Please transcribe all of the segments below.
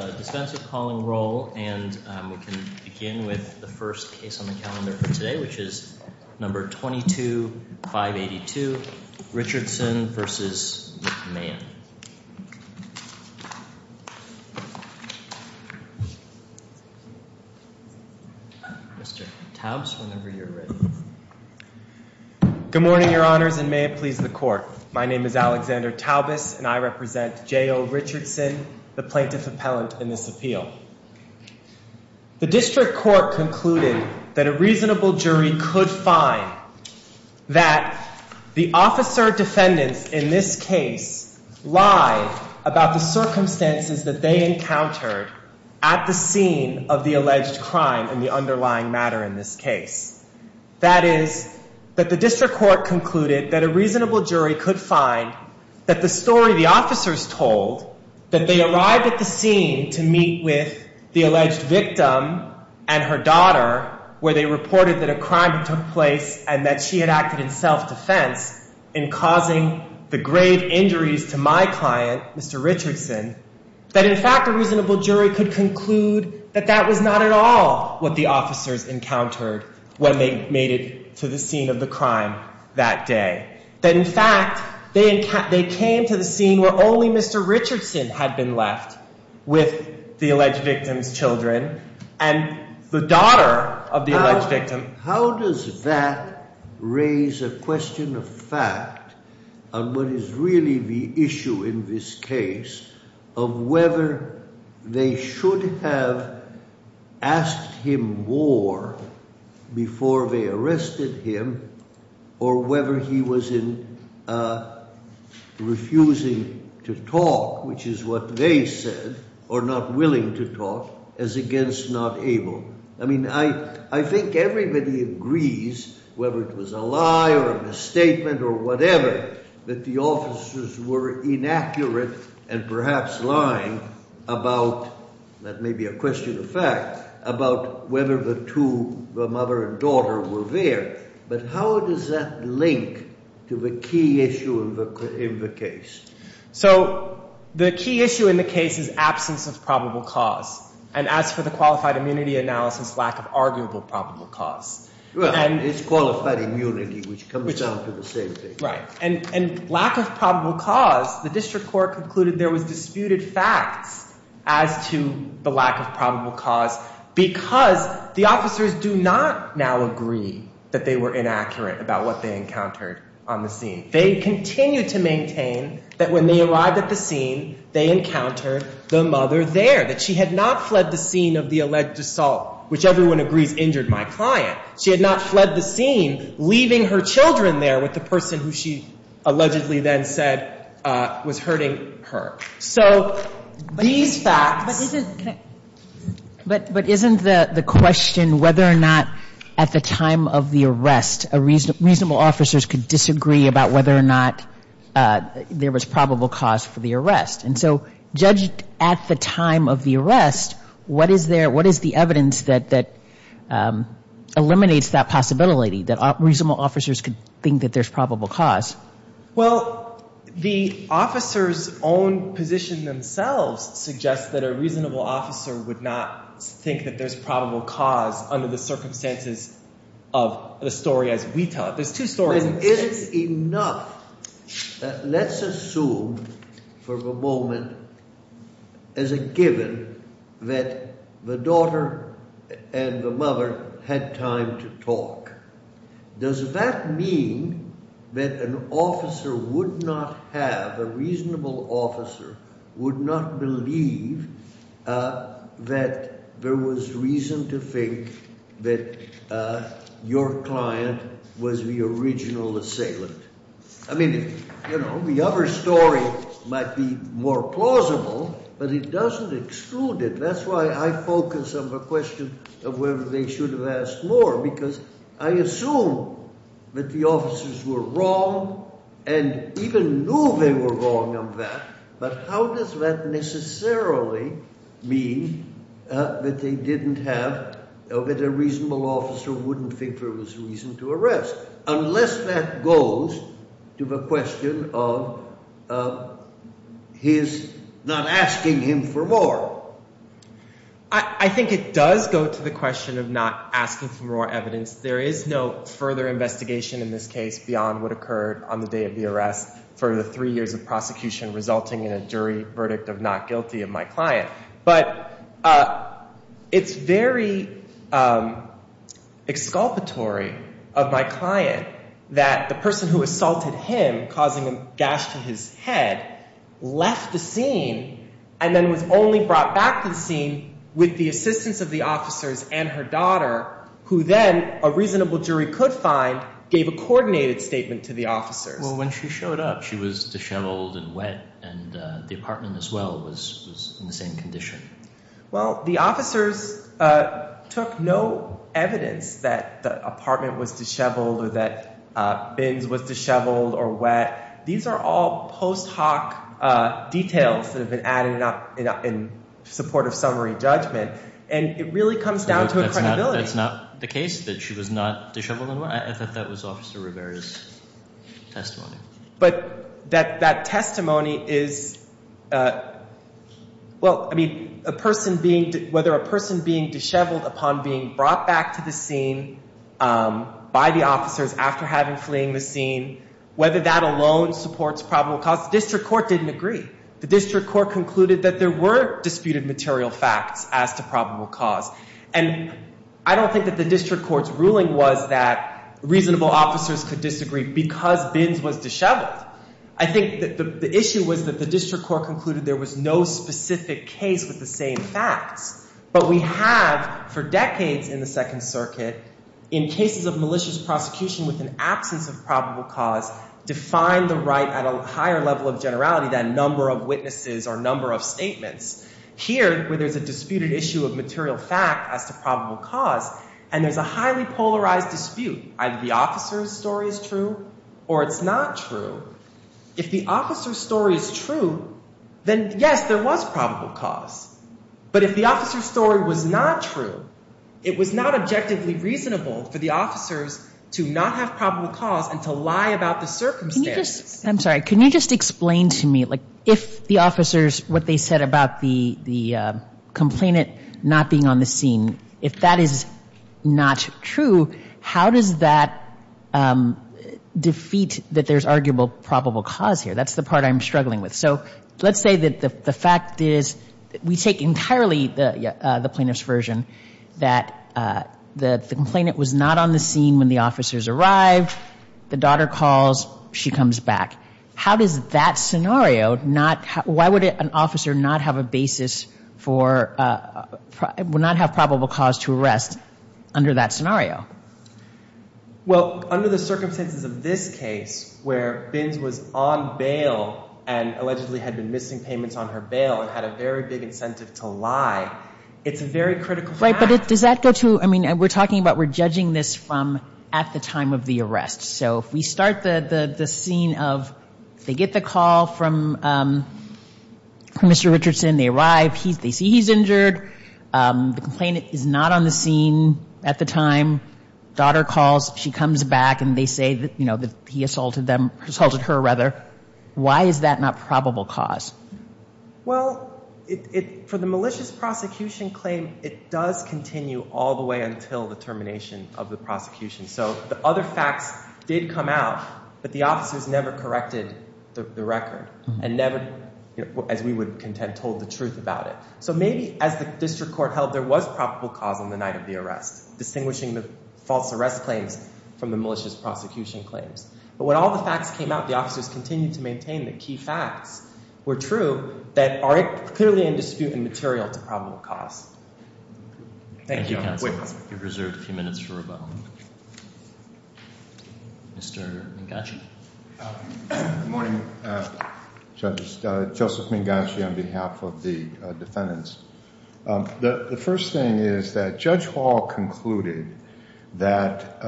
a defensive calling role, and we can begin with the first case on the calendar for today, which is number 22582 Richardson vs. McMahon. Mr. Taubes, whenever you're ready. Good morning, your honors, and may it please the court. My name is Alexander Taubes, and I represent J.O. Richardson, the plaintiff appellant in this appeal. The district court concluded that a reasonable jury could find that the officer defendants in this case lie about the circumstances that they encountered at the scene of the alleged crime and the underlying matter in this case. That is, that the district court concluded that a reasonable jury could find that the story the officers told, that they arrived at the scene to meet with the alleged victim and her daughter, where they reported that a crime took place and that she had acted in self-defense in causing the grave injuries to my client, Mr. Richardson, that, in fact, a reasonable jury could conclude that that was not at all what the officers encountered when they made it to the scene of the crime that day. That, in fact, they came to the scene where only Mr. Richardson had been left with the alleged victim's children and the daughter of the alleged victim. How does that raise a question of fact on what is really the issue in this case of whether they should have asked him more before they arrested him or whether he was in refusing to talk, which is what they said, or not willing to talk, as against not able? I mean, I think everybody agrees, whether it was a lie or a misstatement or whatever, that the officers were inaccurate and perhaps lying about—that may be a question of fact—about whether the two, the mother and daughter, were there. But how does that link to the key issue in the case? So the key issue in the case is absence of probable cause. And as for the qualified immunity analysis, lack of arguable probable cause. Well, it's qualified immunity which comes down to the same thing. Right. And lack of probable cause, the district court concluded there was disputed facts as to the lack of probable cause because the officers do not now agree that they were inaccurate about what they encountered on the scene. They continue to maintain that when they arrived at the scene, they encountered the mother there, that she had not fled the scene of the alleged assault, which everyone agrees injured my client. She had not fled the scene leaving her children there with the person who she allegedly then said was hurting her. So these facts— But isn't the question whether or not at the time of the arrest, reasonable officers could disagree about whether or not there was probable cause for the arrest? And so judged at the time of the arrest, what is there, what is the evidence that eliminates that possibility, that reasonable officers could think that there's probable cause? Well, the officers' own position themselves suggests that a reasonable officer would not think that there's probable cause under the circumstances of the story as we tell it. There's two stories. Let's assume for the moment as a given that the daughter and the mother had time to talk. Does that mean that an officer would not have—a reasonable officer would not believe that there was reason to think that your client was the original assailant? I mean, you know, the other story might be more plausible, but it doesn't exclude it. That's why I focus on the question of whether they should have asked more because I assume that the officers were wrong and even knew they were wrong on that. But how does that necessarily mean that they didn't have—that a reasonable officer wouldn't think there was reason to arrest? Unless that goes to the question of his not asking him for more. I think it does go to the question of not asking for more evidence. There is no further investigation in this case beyond what occurred on the day of the arrest for the three years of prosecution resulting in a jury verdict of not guilty of my client. But it's very exculpatory of my client that the person who assaulted him, causing a gash to his head, left the scene and then was only brought back to the scene with the assistance of the officers and her daughter, who then a reasonable jury could find, gave a coordinated statement to the officers. Well, when she showed up, she was disheveled and wet, and the apartment as well was in the same condition. Well, the officers took no evidence that the apartment was disheveled or that bins was disheveled or wet. These are all post hoc details that have been added in support of summary judgment, and it really comes down to a credibility. No, that's not the case, that she was not disheveled and wet. I thought that was Officer Rivera's testimony. But that testimony is – well, I mean, a person being – whether a person being disheveled upon being brought back to the scene by the officers after having fleeing the scene, whether that alone supports probable cause, the district court didn't agree. The district court concluded that there were disputed material facts as to probable cause. And I don't think that the district court's ruling was that reasonable officers could disagree because bins was disheveled. I think that the issue was that the district court concluded there was no specific case with the same facts. But we have for decades in the Second Circuit, in cases of malicious prosecution with an absence of probable cause, defined the right at a higher level of generality than number of witnesses or number of statements. Here, where there's a disputed issue of material fact as to probable cause, and there's a highly polarized dispute, either the officer's story is true or it's not true, if the officer's story is true, then, yes, there was probable cause. But if the officer's story was not true, it was not objectively reasonable for the officers to not have probable cause and to lie about the circumstances. I'm sorry. Can you just explain to me, like, if the officers, what they said about the complainant not being on the scene, if that is not true, how does that defeat that there's arguable probable cause here? That's the part I'm struggling with. So let's say that the fact is we take entirely the plaintiff's version that the complainant was not on the scene when the officers arrived, the daughter calls, she comes back. How does that scenario not – why would an officer not have a basis for – would not have probable cause to arrest under that scenario? Well, under the circumstances of this case, where Binns was on bail and allegedly had been missing payments on her bail and had a very big incentive to lie, it's a very critical fact. Right, but does that go to – I mean, we're talking about we're judging this from at the time of the arrest. So if we start the scene of they get the call from Mr. Richardson, they arrive, they see he's injured. The complainant is not on the scene at the time. Daughter calls, she comes back, and they say that he assaulted them – assaulted her, rather. Why is that not probable cause? Well, for the malicious prosecution claim, it does continue all the way until the termination of the prosecution. So the other facts did come out, but the officers never corrected the record and never, as we would contend, told the truth about it. So maybe as the district court held, there was probable cause on the night of the arrest, distinguishing the false arrest claims from the malicious prosecution claims. But when all the facts came out, the officers continued to maintain that key facts were true that are clearly in dispute and material to probable cause. Thank you, counsel. We've reserved a few minutes for rebuttal. Mr. Mingacci. Good morning, judges. Joseph Mingacci on behalf of the defendants. The first thing is that Judge Hall concluded that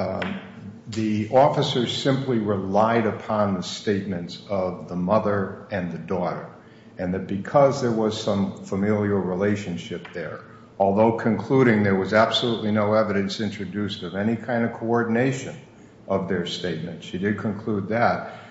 the officers simply relied upon the statements of the mother and the daughter. And that because there was some familial relationship there, although concluding there was absolutely no evidence introduced of any kind of coordination of their statements – and she did conclude that –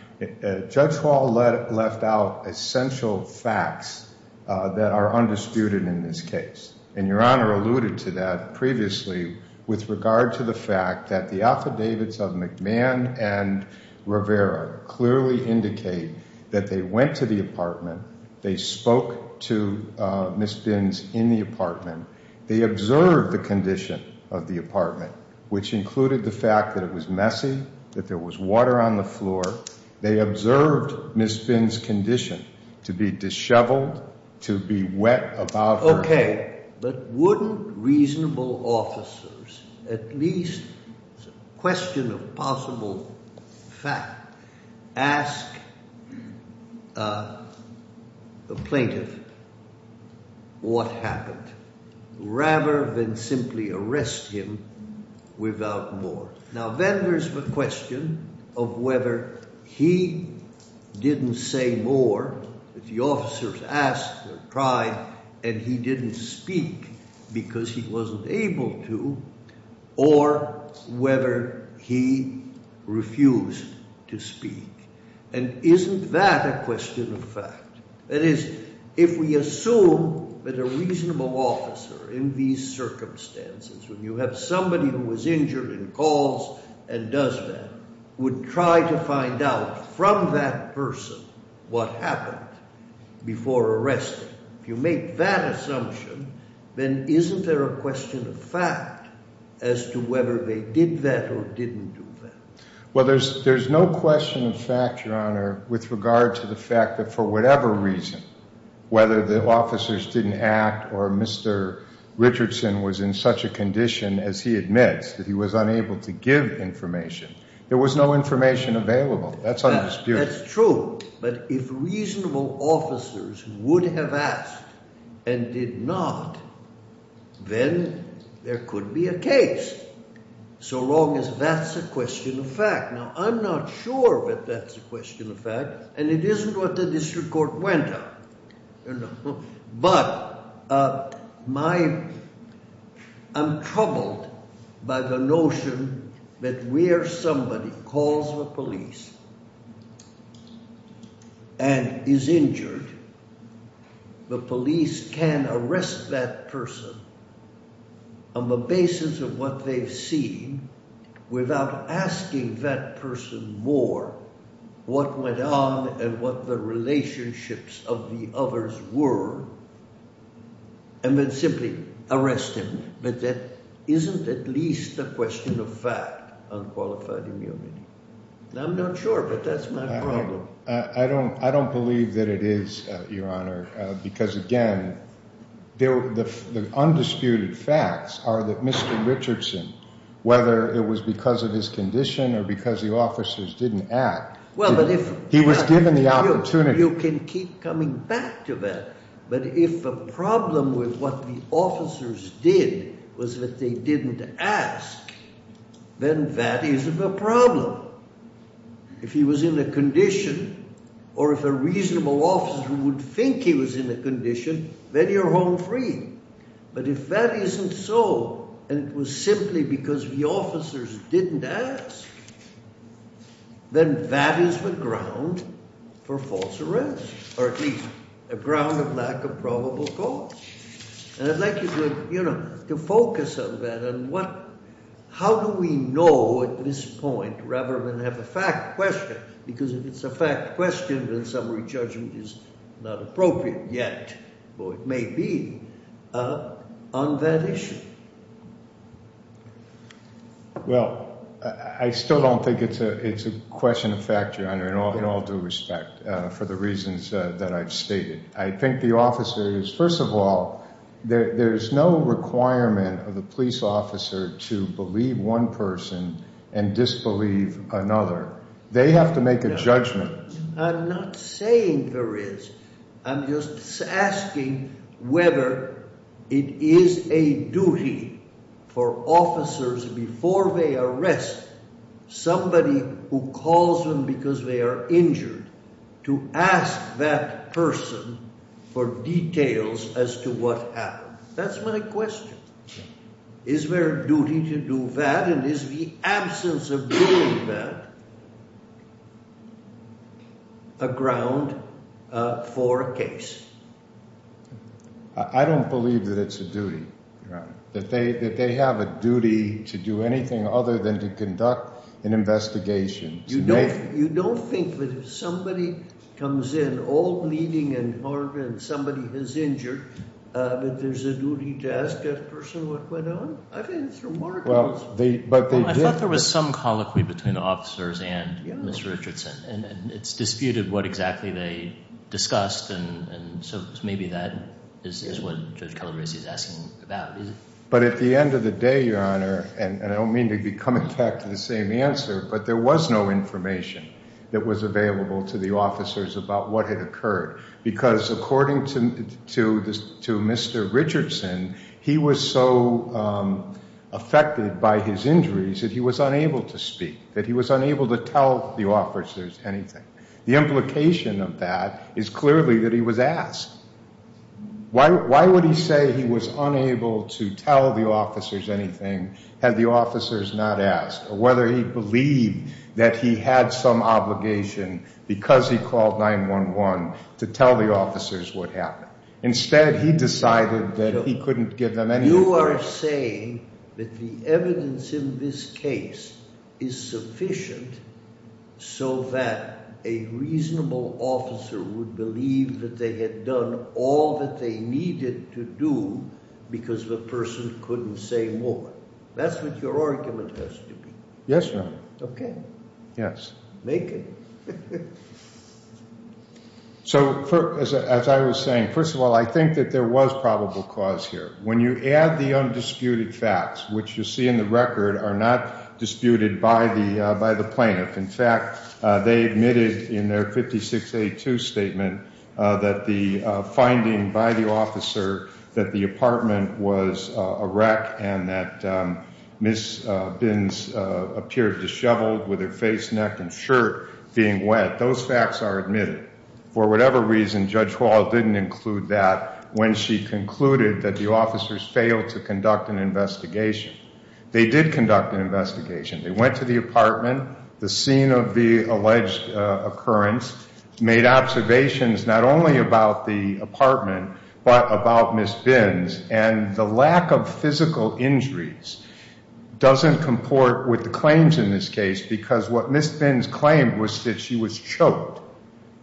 Judge Hall left out essential facts that are undisputed in this case. And Your Honor alluded to that previously with regard to the fact that the affidavits of McMahon and Rivera clearly indicate that they went to the apartment, they spoke to Ms. Binns in the apartment, they observed the condition of the apartment, which included the fact that it was messy, that there was water on the floor. They observed Ms. Binns' condition to be disheveled, to be wet above her head. But wouldn't reasonable officers, at least as a question of possible fact, ask a plaintiff what happened rather than simply arrest him without more? Now then there's the question of whether he didn't say more, if the officers asked or tried, and he didn't speak because he wasn't able to, or whether he refused to speak. And isn't that a question of fact? That is, if we assume that a reasonable officer in these circumstances, when you have somebody who was injured and calls and does that, would try to find out from that person what happened before arresting. If you make that assumption, then isn't there a question of fact as to whether they did that or didn't do that? Well, there's no question of fact, Your Honor, with regard to the fact that for whatever reason, whether the officers didn't act or Mr. Richardson was in such a condition as he admits, that he was unable to give information, there was no information available. That's undisputed. That's true. But if reasonable officers would have asked and did not, then there could be a case, so long as that's a question of fact. Now I'm not sure that that's a question of fact, and it isn't what the district court went on. But I'm troubled by the notion that where somebody calls the police and is injured, the police can arrest that person on the basis of what they've seen without asking that person more what went on and what the relationships of the other person were. And then simply arrest him. But that isn't at least a question of fact on qualified immunity. I'm not sure, but that's my problem. I don't believe that it is, Your Honor, because again, the undisputed facts are that Mr. Richardson, whether it was because of his condition or because the officers didn't act, he was given the opportunity. You can keep coming back to that. But if the problem with what the officers did was that they didn't ask, then that isn't a problem. If he was in a condition or if a reasonable officer would think he was in a condition, then you're home free. But if that isn't so, and it was simply because the officers didn't ask, then that is the ground for false arrest, or at least a ground of lack of probable cause. And I'd like you to focus on that and what – how do we know at this point rather than have a fact question, because if it's a fact question, then summary judgment is not appropriate yet, or it may be, on that issue. Well, I still don't think it's a question of fact, Your Honor, in all due respect for the reasons that I've stated. I think the officers – first of all, there's no requirement of the police officer to believe one person and disbelieve another. They have to make a judgment. I'm not saying there is. I'm just asking whether it is a duty for officers, before they arrest somebody who calls them because they are injured, to ask that person for details as to what happened. That's my question. Is there a duty to do that, and is the absence of doing that a ground for a case? I don't believe that it's a duty, Your Honor, that they have a duty to do anything other than to conduct an investigation. You don't think that if somebody comes in, all bleeding and hard, and somebody is injured, that there's a duty to ask that person what went on? I think it's remarkable. I thought there was some colloquy between the officers and Mr. Richardson, and it's disputed what exactly they discussed, and so maybe that is what Judge Calabresi is asking about. But at the end of the day, Your Honor, and I don't mean to be coming back to the same answer, but there was no information that was available to the officers about what had occurred, because according to Mr. Richardson, he was so affected by his injuries that he was unable to speak, that he was unable to tell the officers anything. The implication of that is clearly that he was asked. Why would he say he was unable to tell the officers anything had the officers not asked, or whether he believed that he had some obligation because he called 911 to tell the officers what happened? A reasonable officer would believe that they had done all that they needed to do because the person couldn't say more. That's what your argument has to be. Yes, Your Honor. Okay. Yes. Make it. So as I was saying, first of all, I think that there was probable cause here when you add the undisputed facts, which you see in the record are not disputed by the by the plaintiff. In fact, they admitted in their 5682 statement that the finding by the officer that the apartment was a wreck and that Ms. Binns appeared disheveled with her face, neck, and shirt being wet. Those facts are admitted. For whatever reason, Judge Hall didn't include that when she concluded that the officers failed to conduct an investigation. They did conduct an investigation. They went to the apartment, the scene of the alleged occurrence, made observations not only about the apartment but about Ms. Binns, and the lack of physical injuries doesn't comport with the claims in this case because what Ms. Binns claimed was that she was choked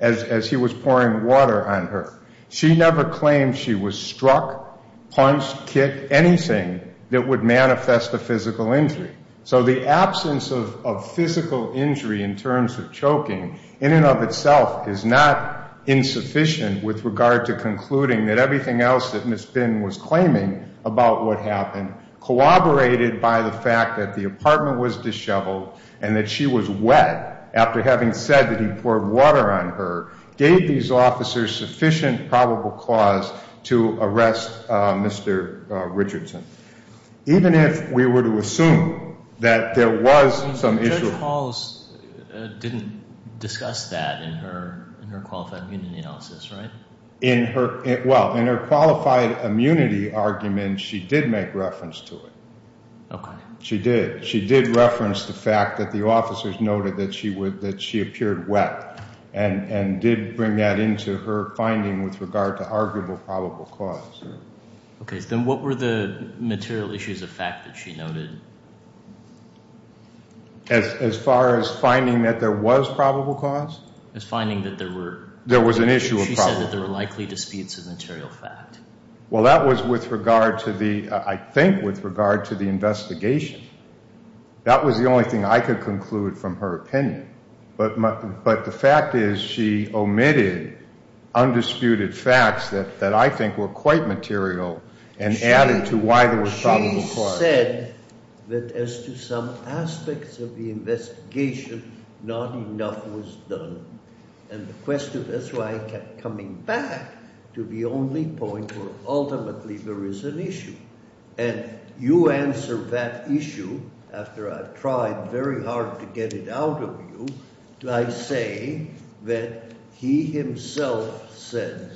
as he was pouring water on her. She never claimed she was struck, punched, kicked, anything that would manifest a physical injury. So the absence of physical injury in terms of choking in and of itself is not insufficient with regard to concluding that everything else that Ms. Binns was claiming about what happened, corroborated by the fact that the apartment was disheveled and that she was wet after having said that he poured water on her, gave these officers sufficient probable cause to arrest Mr. Richardson. Even if we were to assume that there was some issue. Judge Hall didn't discuss that in her qualified immunity analysis, right? In her, well, in her qualified immunity argument, she did make reference to it. Okay. She did. She did reference the fact that the officers noted that she appeared wet and did bring that into her finding with regard to arguable probable cause. Okay. Then what were the material issues of fact that she noted? As far as finding that there was probable cause? As finding that there were. There was an issue of probable cause. She said that there were likely disputes of material fact. Well, that was with regard to the, I think, with regard to the investigation. That was the only thing I could conclude from her opinion. But the fact is she omitted undisputed facts that I think were quite material and added to why there was probable cause. She said that as to some aspects of the investigation, not enough was done. And the question, that's why I kept coming back to the only point where ultimately there is an issue. And you answer that issue after I've tried very hard to get it out of you. I say that he himself said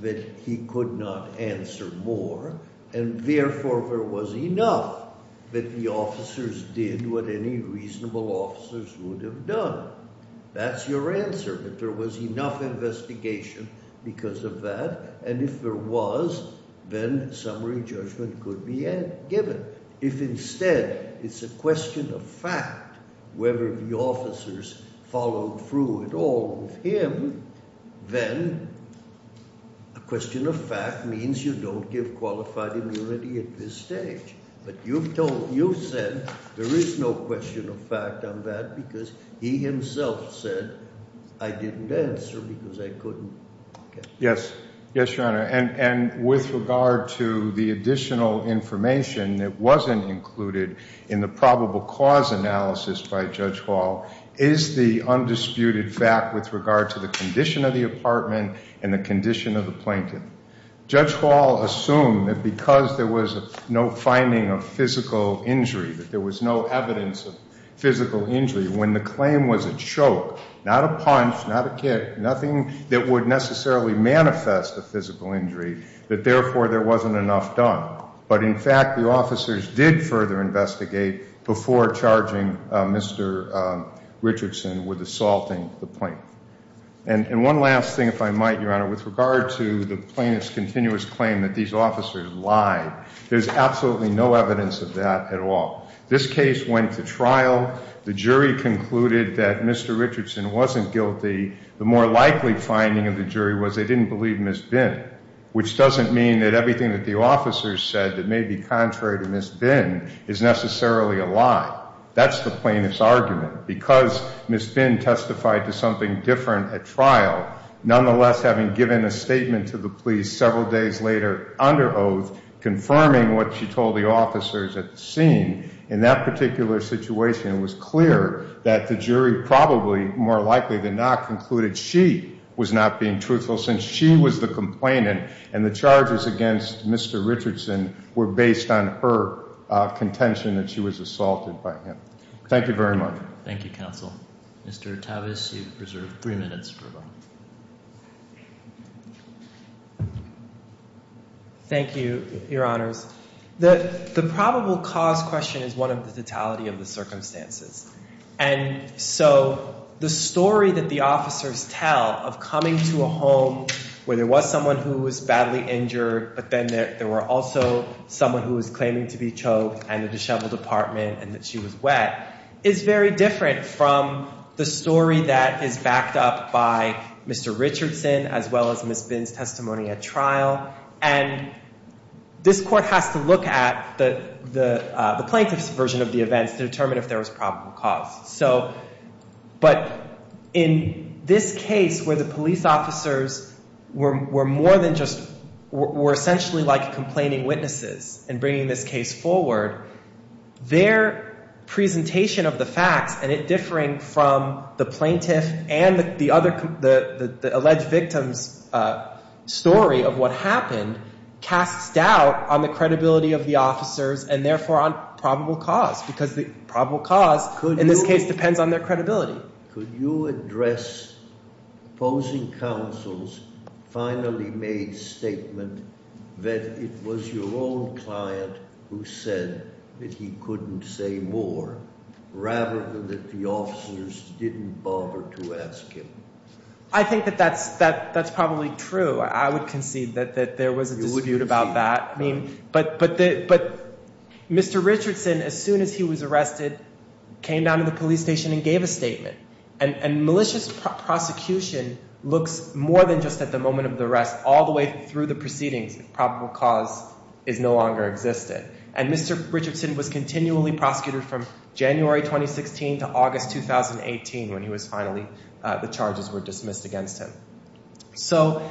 that he could not answer more, and therefore there was enough that the officers did what any reasonable officers would have done. That's your answer, that there was enough investigation because of that. And if there was, then summary judgment could be given. If instead it's a question of fact whether the officers followed through at all with him, then a question of fact means you don't give qualified immunity at this stage. But you've said there is no question of fact on that because he himself said, I didn't answer because I couldn't. Yes. Yes, Your Honor. And with regard to the additional information that wasn't included in the probable cause analysis by Judge Hall, is the undisputed fact with regard to the condition of the apartment and the condition of the blanket. Judge Hall assumed that because there was no finding of physical injury, that there was no evidence of physical injury, when the claim was a choke, not a punch, not a kick, nothing that would necessarily manifest a physical injury, that therefore there wasn't enough done. But in fact, the officers did further investigate before charging Mr. Richardson with assaulting the plaintiff. And one last thing, if I might, Your Honor, with regard to the plaintiff's continuous claim that these officers lied, there's absolutely no evidence of that at all. This case went to trial. The jury concluded that Mr. Richardson wasn't guilty. The more likely finding of the jury was they didn't believe Ms. Bihn, which doesn't mean that everything that the officers said that may be contrary to Ms. Bihn is necessarily a lie. That's the plaintiff's argument. Because Ms. Bihn testified to something different at trial, nonetheless having given a statement to the police several days later under oath, confirming what she told the officers at the scene, in that particular situation, it was clear that the jury probably, more likely than not, concluded she was not being truthful since she was the complainant, and the charges against Mr. Richardson were based on her contention that she was assaulted by him. Thank you very much. Thank you, counsel. Mr. Tavis, you've preserved three minutes. Thank you, Your Honors. The probable cause question is one of the totality of the circumstances. And so the story that the officers tell of coming to a home where there was someone who was badly injured, but then there were also someone who was claiming to be choked and the disheveled apartment and that she was wet, is very different from the story that is backed up by Mr. Richardson as well as Ms. Bihn's testimony at trial. And this court has to look at the plaintiff's version of the events to determine if there was probable cause. But in this case where the police officers were more than just, were essentially like complaining witnesses in bringing this case forward, their presentation of the facts, and it differing from the plaintiff and the other, the alleged victim's story of what happened, casts doubt on the credibility of the officers and therefore on probable cause, because the probable cause in this case depends on their credibility. Could you address opposing counsel's finally made statement that it was your own client who said that he couldn't say more, rather than that the officers didn't bother to ask him? I think that that's probably true. I would concede that there was a dispute about that. But Mr. Richardson, as soon as he was arrested, came down to the police station and gave a statement. And malicious prosecution looks more than just at the moment of the arrest, all the way through the proceedings if probable cause is no longer existed. And Mr. Richardson was continually prosecuted from January 2016 to August 2018 when he was finally, the charges were dismissed against him. So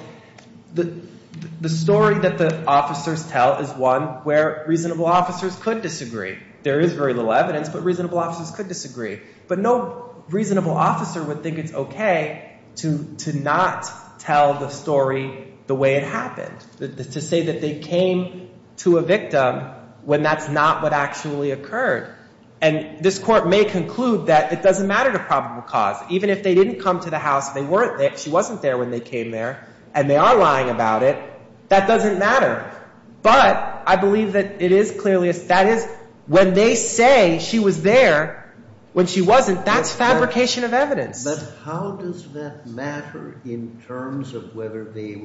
the story that the officers tell is one where reasonable officers could disagree. There is very little evidence, but reasonable officers could disagree. But no reasonable officer would think it's okay to not tell the story the way it happened. To say that they came to a victim when that's not what actually occurred. And this court may conclude that it doesn't matter to probable cause. Even if they didn't come to the house, she wasn't there when they came there, and they are lying about it, that doesn't matter. But I believe that it is clearly, that is, when they say she was there when she wasn't, that's fabrication of evidence. But how does that matter in terms of whether they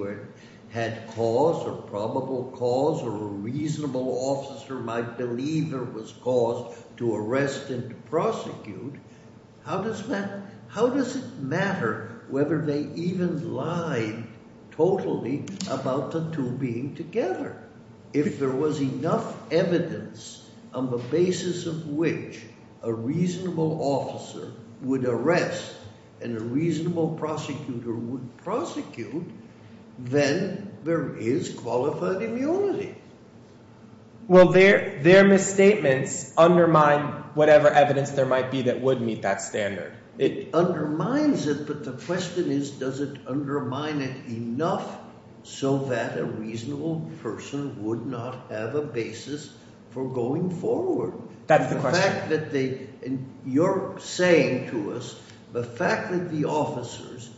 had cause or probable cause or a reasonable officer might believe her was caused to arrest and prosecute? How does it matter whether they even lied totally about the two being together? If there was enough evidence on the basis of which a reasonable officer would arrest and a reasonable prosecutor would prosecute, then there is qualified immunity. Well, their misstatements undermine whatever evidence there might be that would meet that standard. It undermines it, but the question is, does it undermine it enough so that a reasonable person would not have a basis for going forward? That's the question. The fact that they, and you're saying to us, the fact that the officers,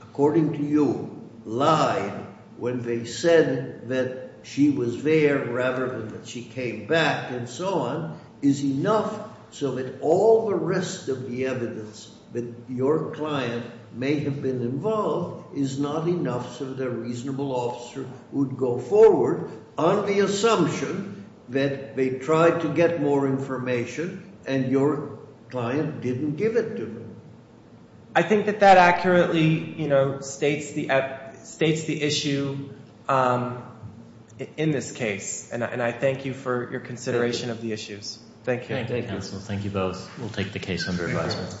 according to you, lied when they said that she was there rather than that she came back and so on, is enough so that all the rest of the evidence that your client may have been involved is not enough so that a reasonable officer would go forward on the assumption that they tried to get more information and your client didn't give it to them. I think that that accurately states the issue in this case, and I thank you for your consideration of the issues. Thank you. Thank you, counsel. Thank you both. We'll take the case under advisement.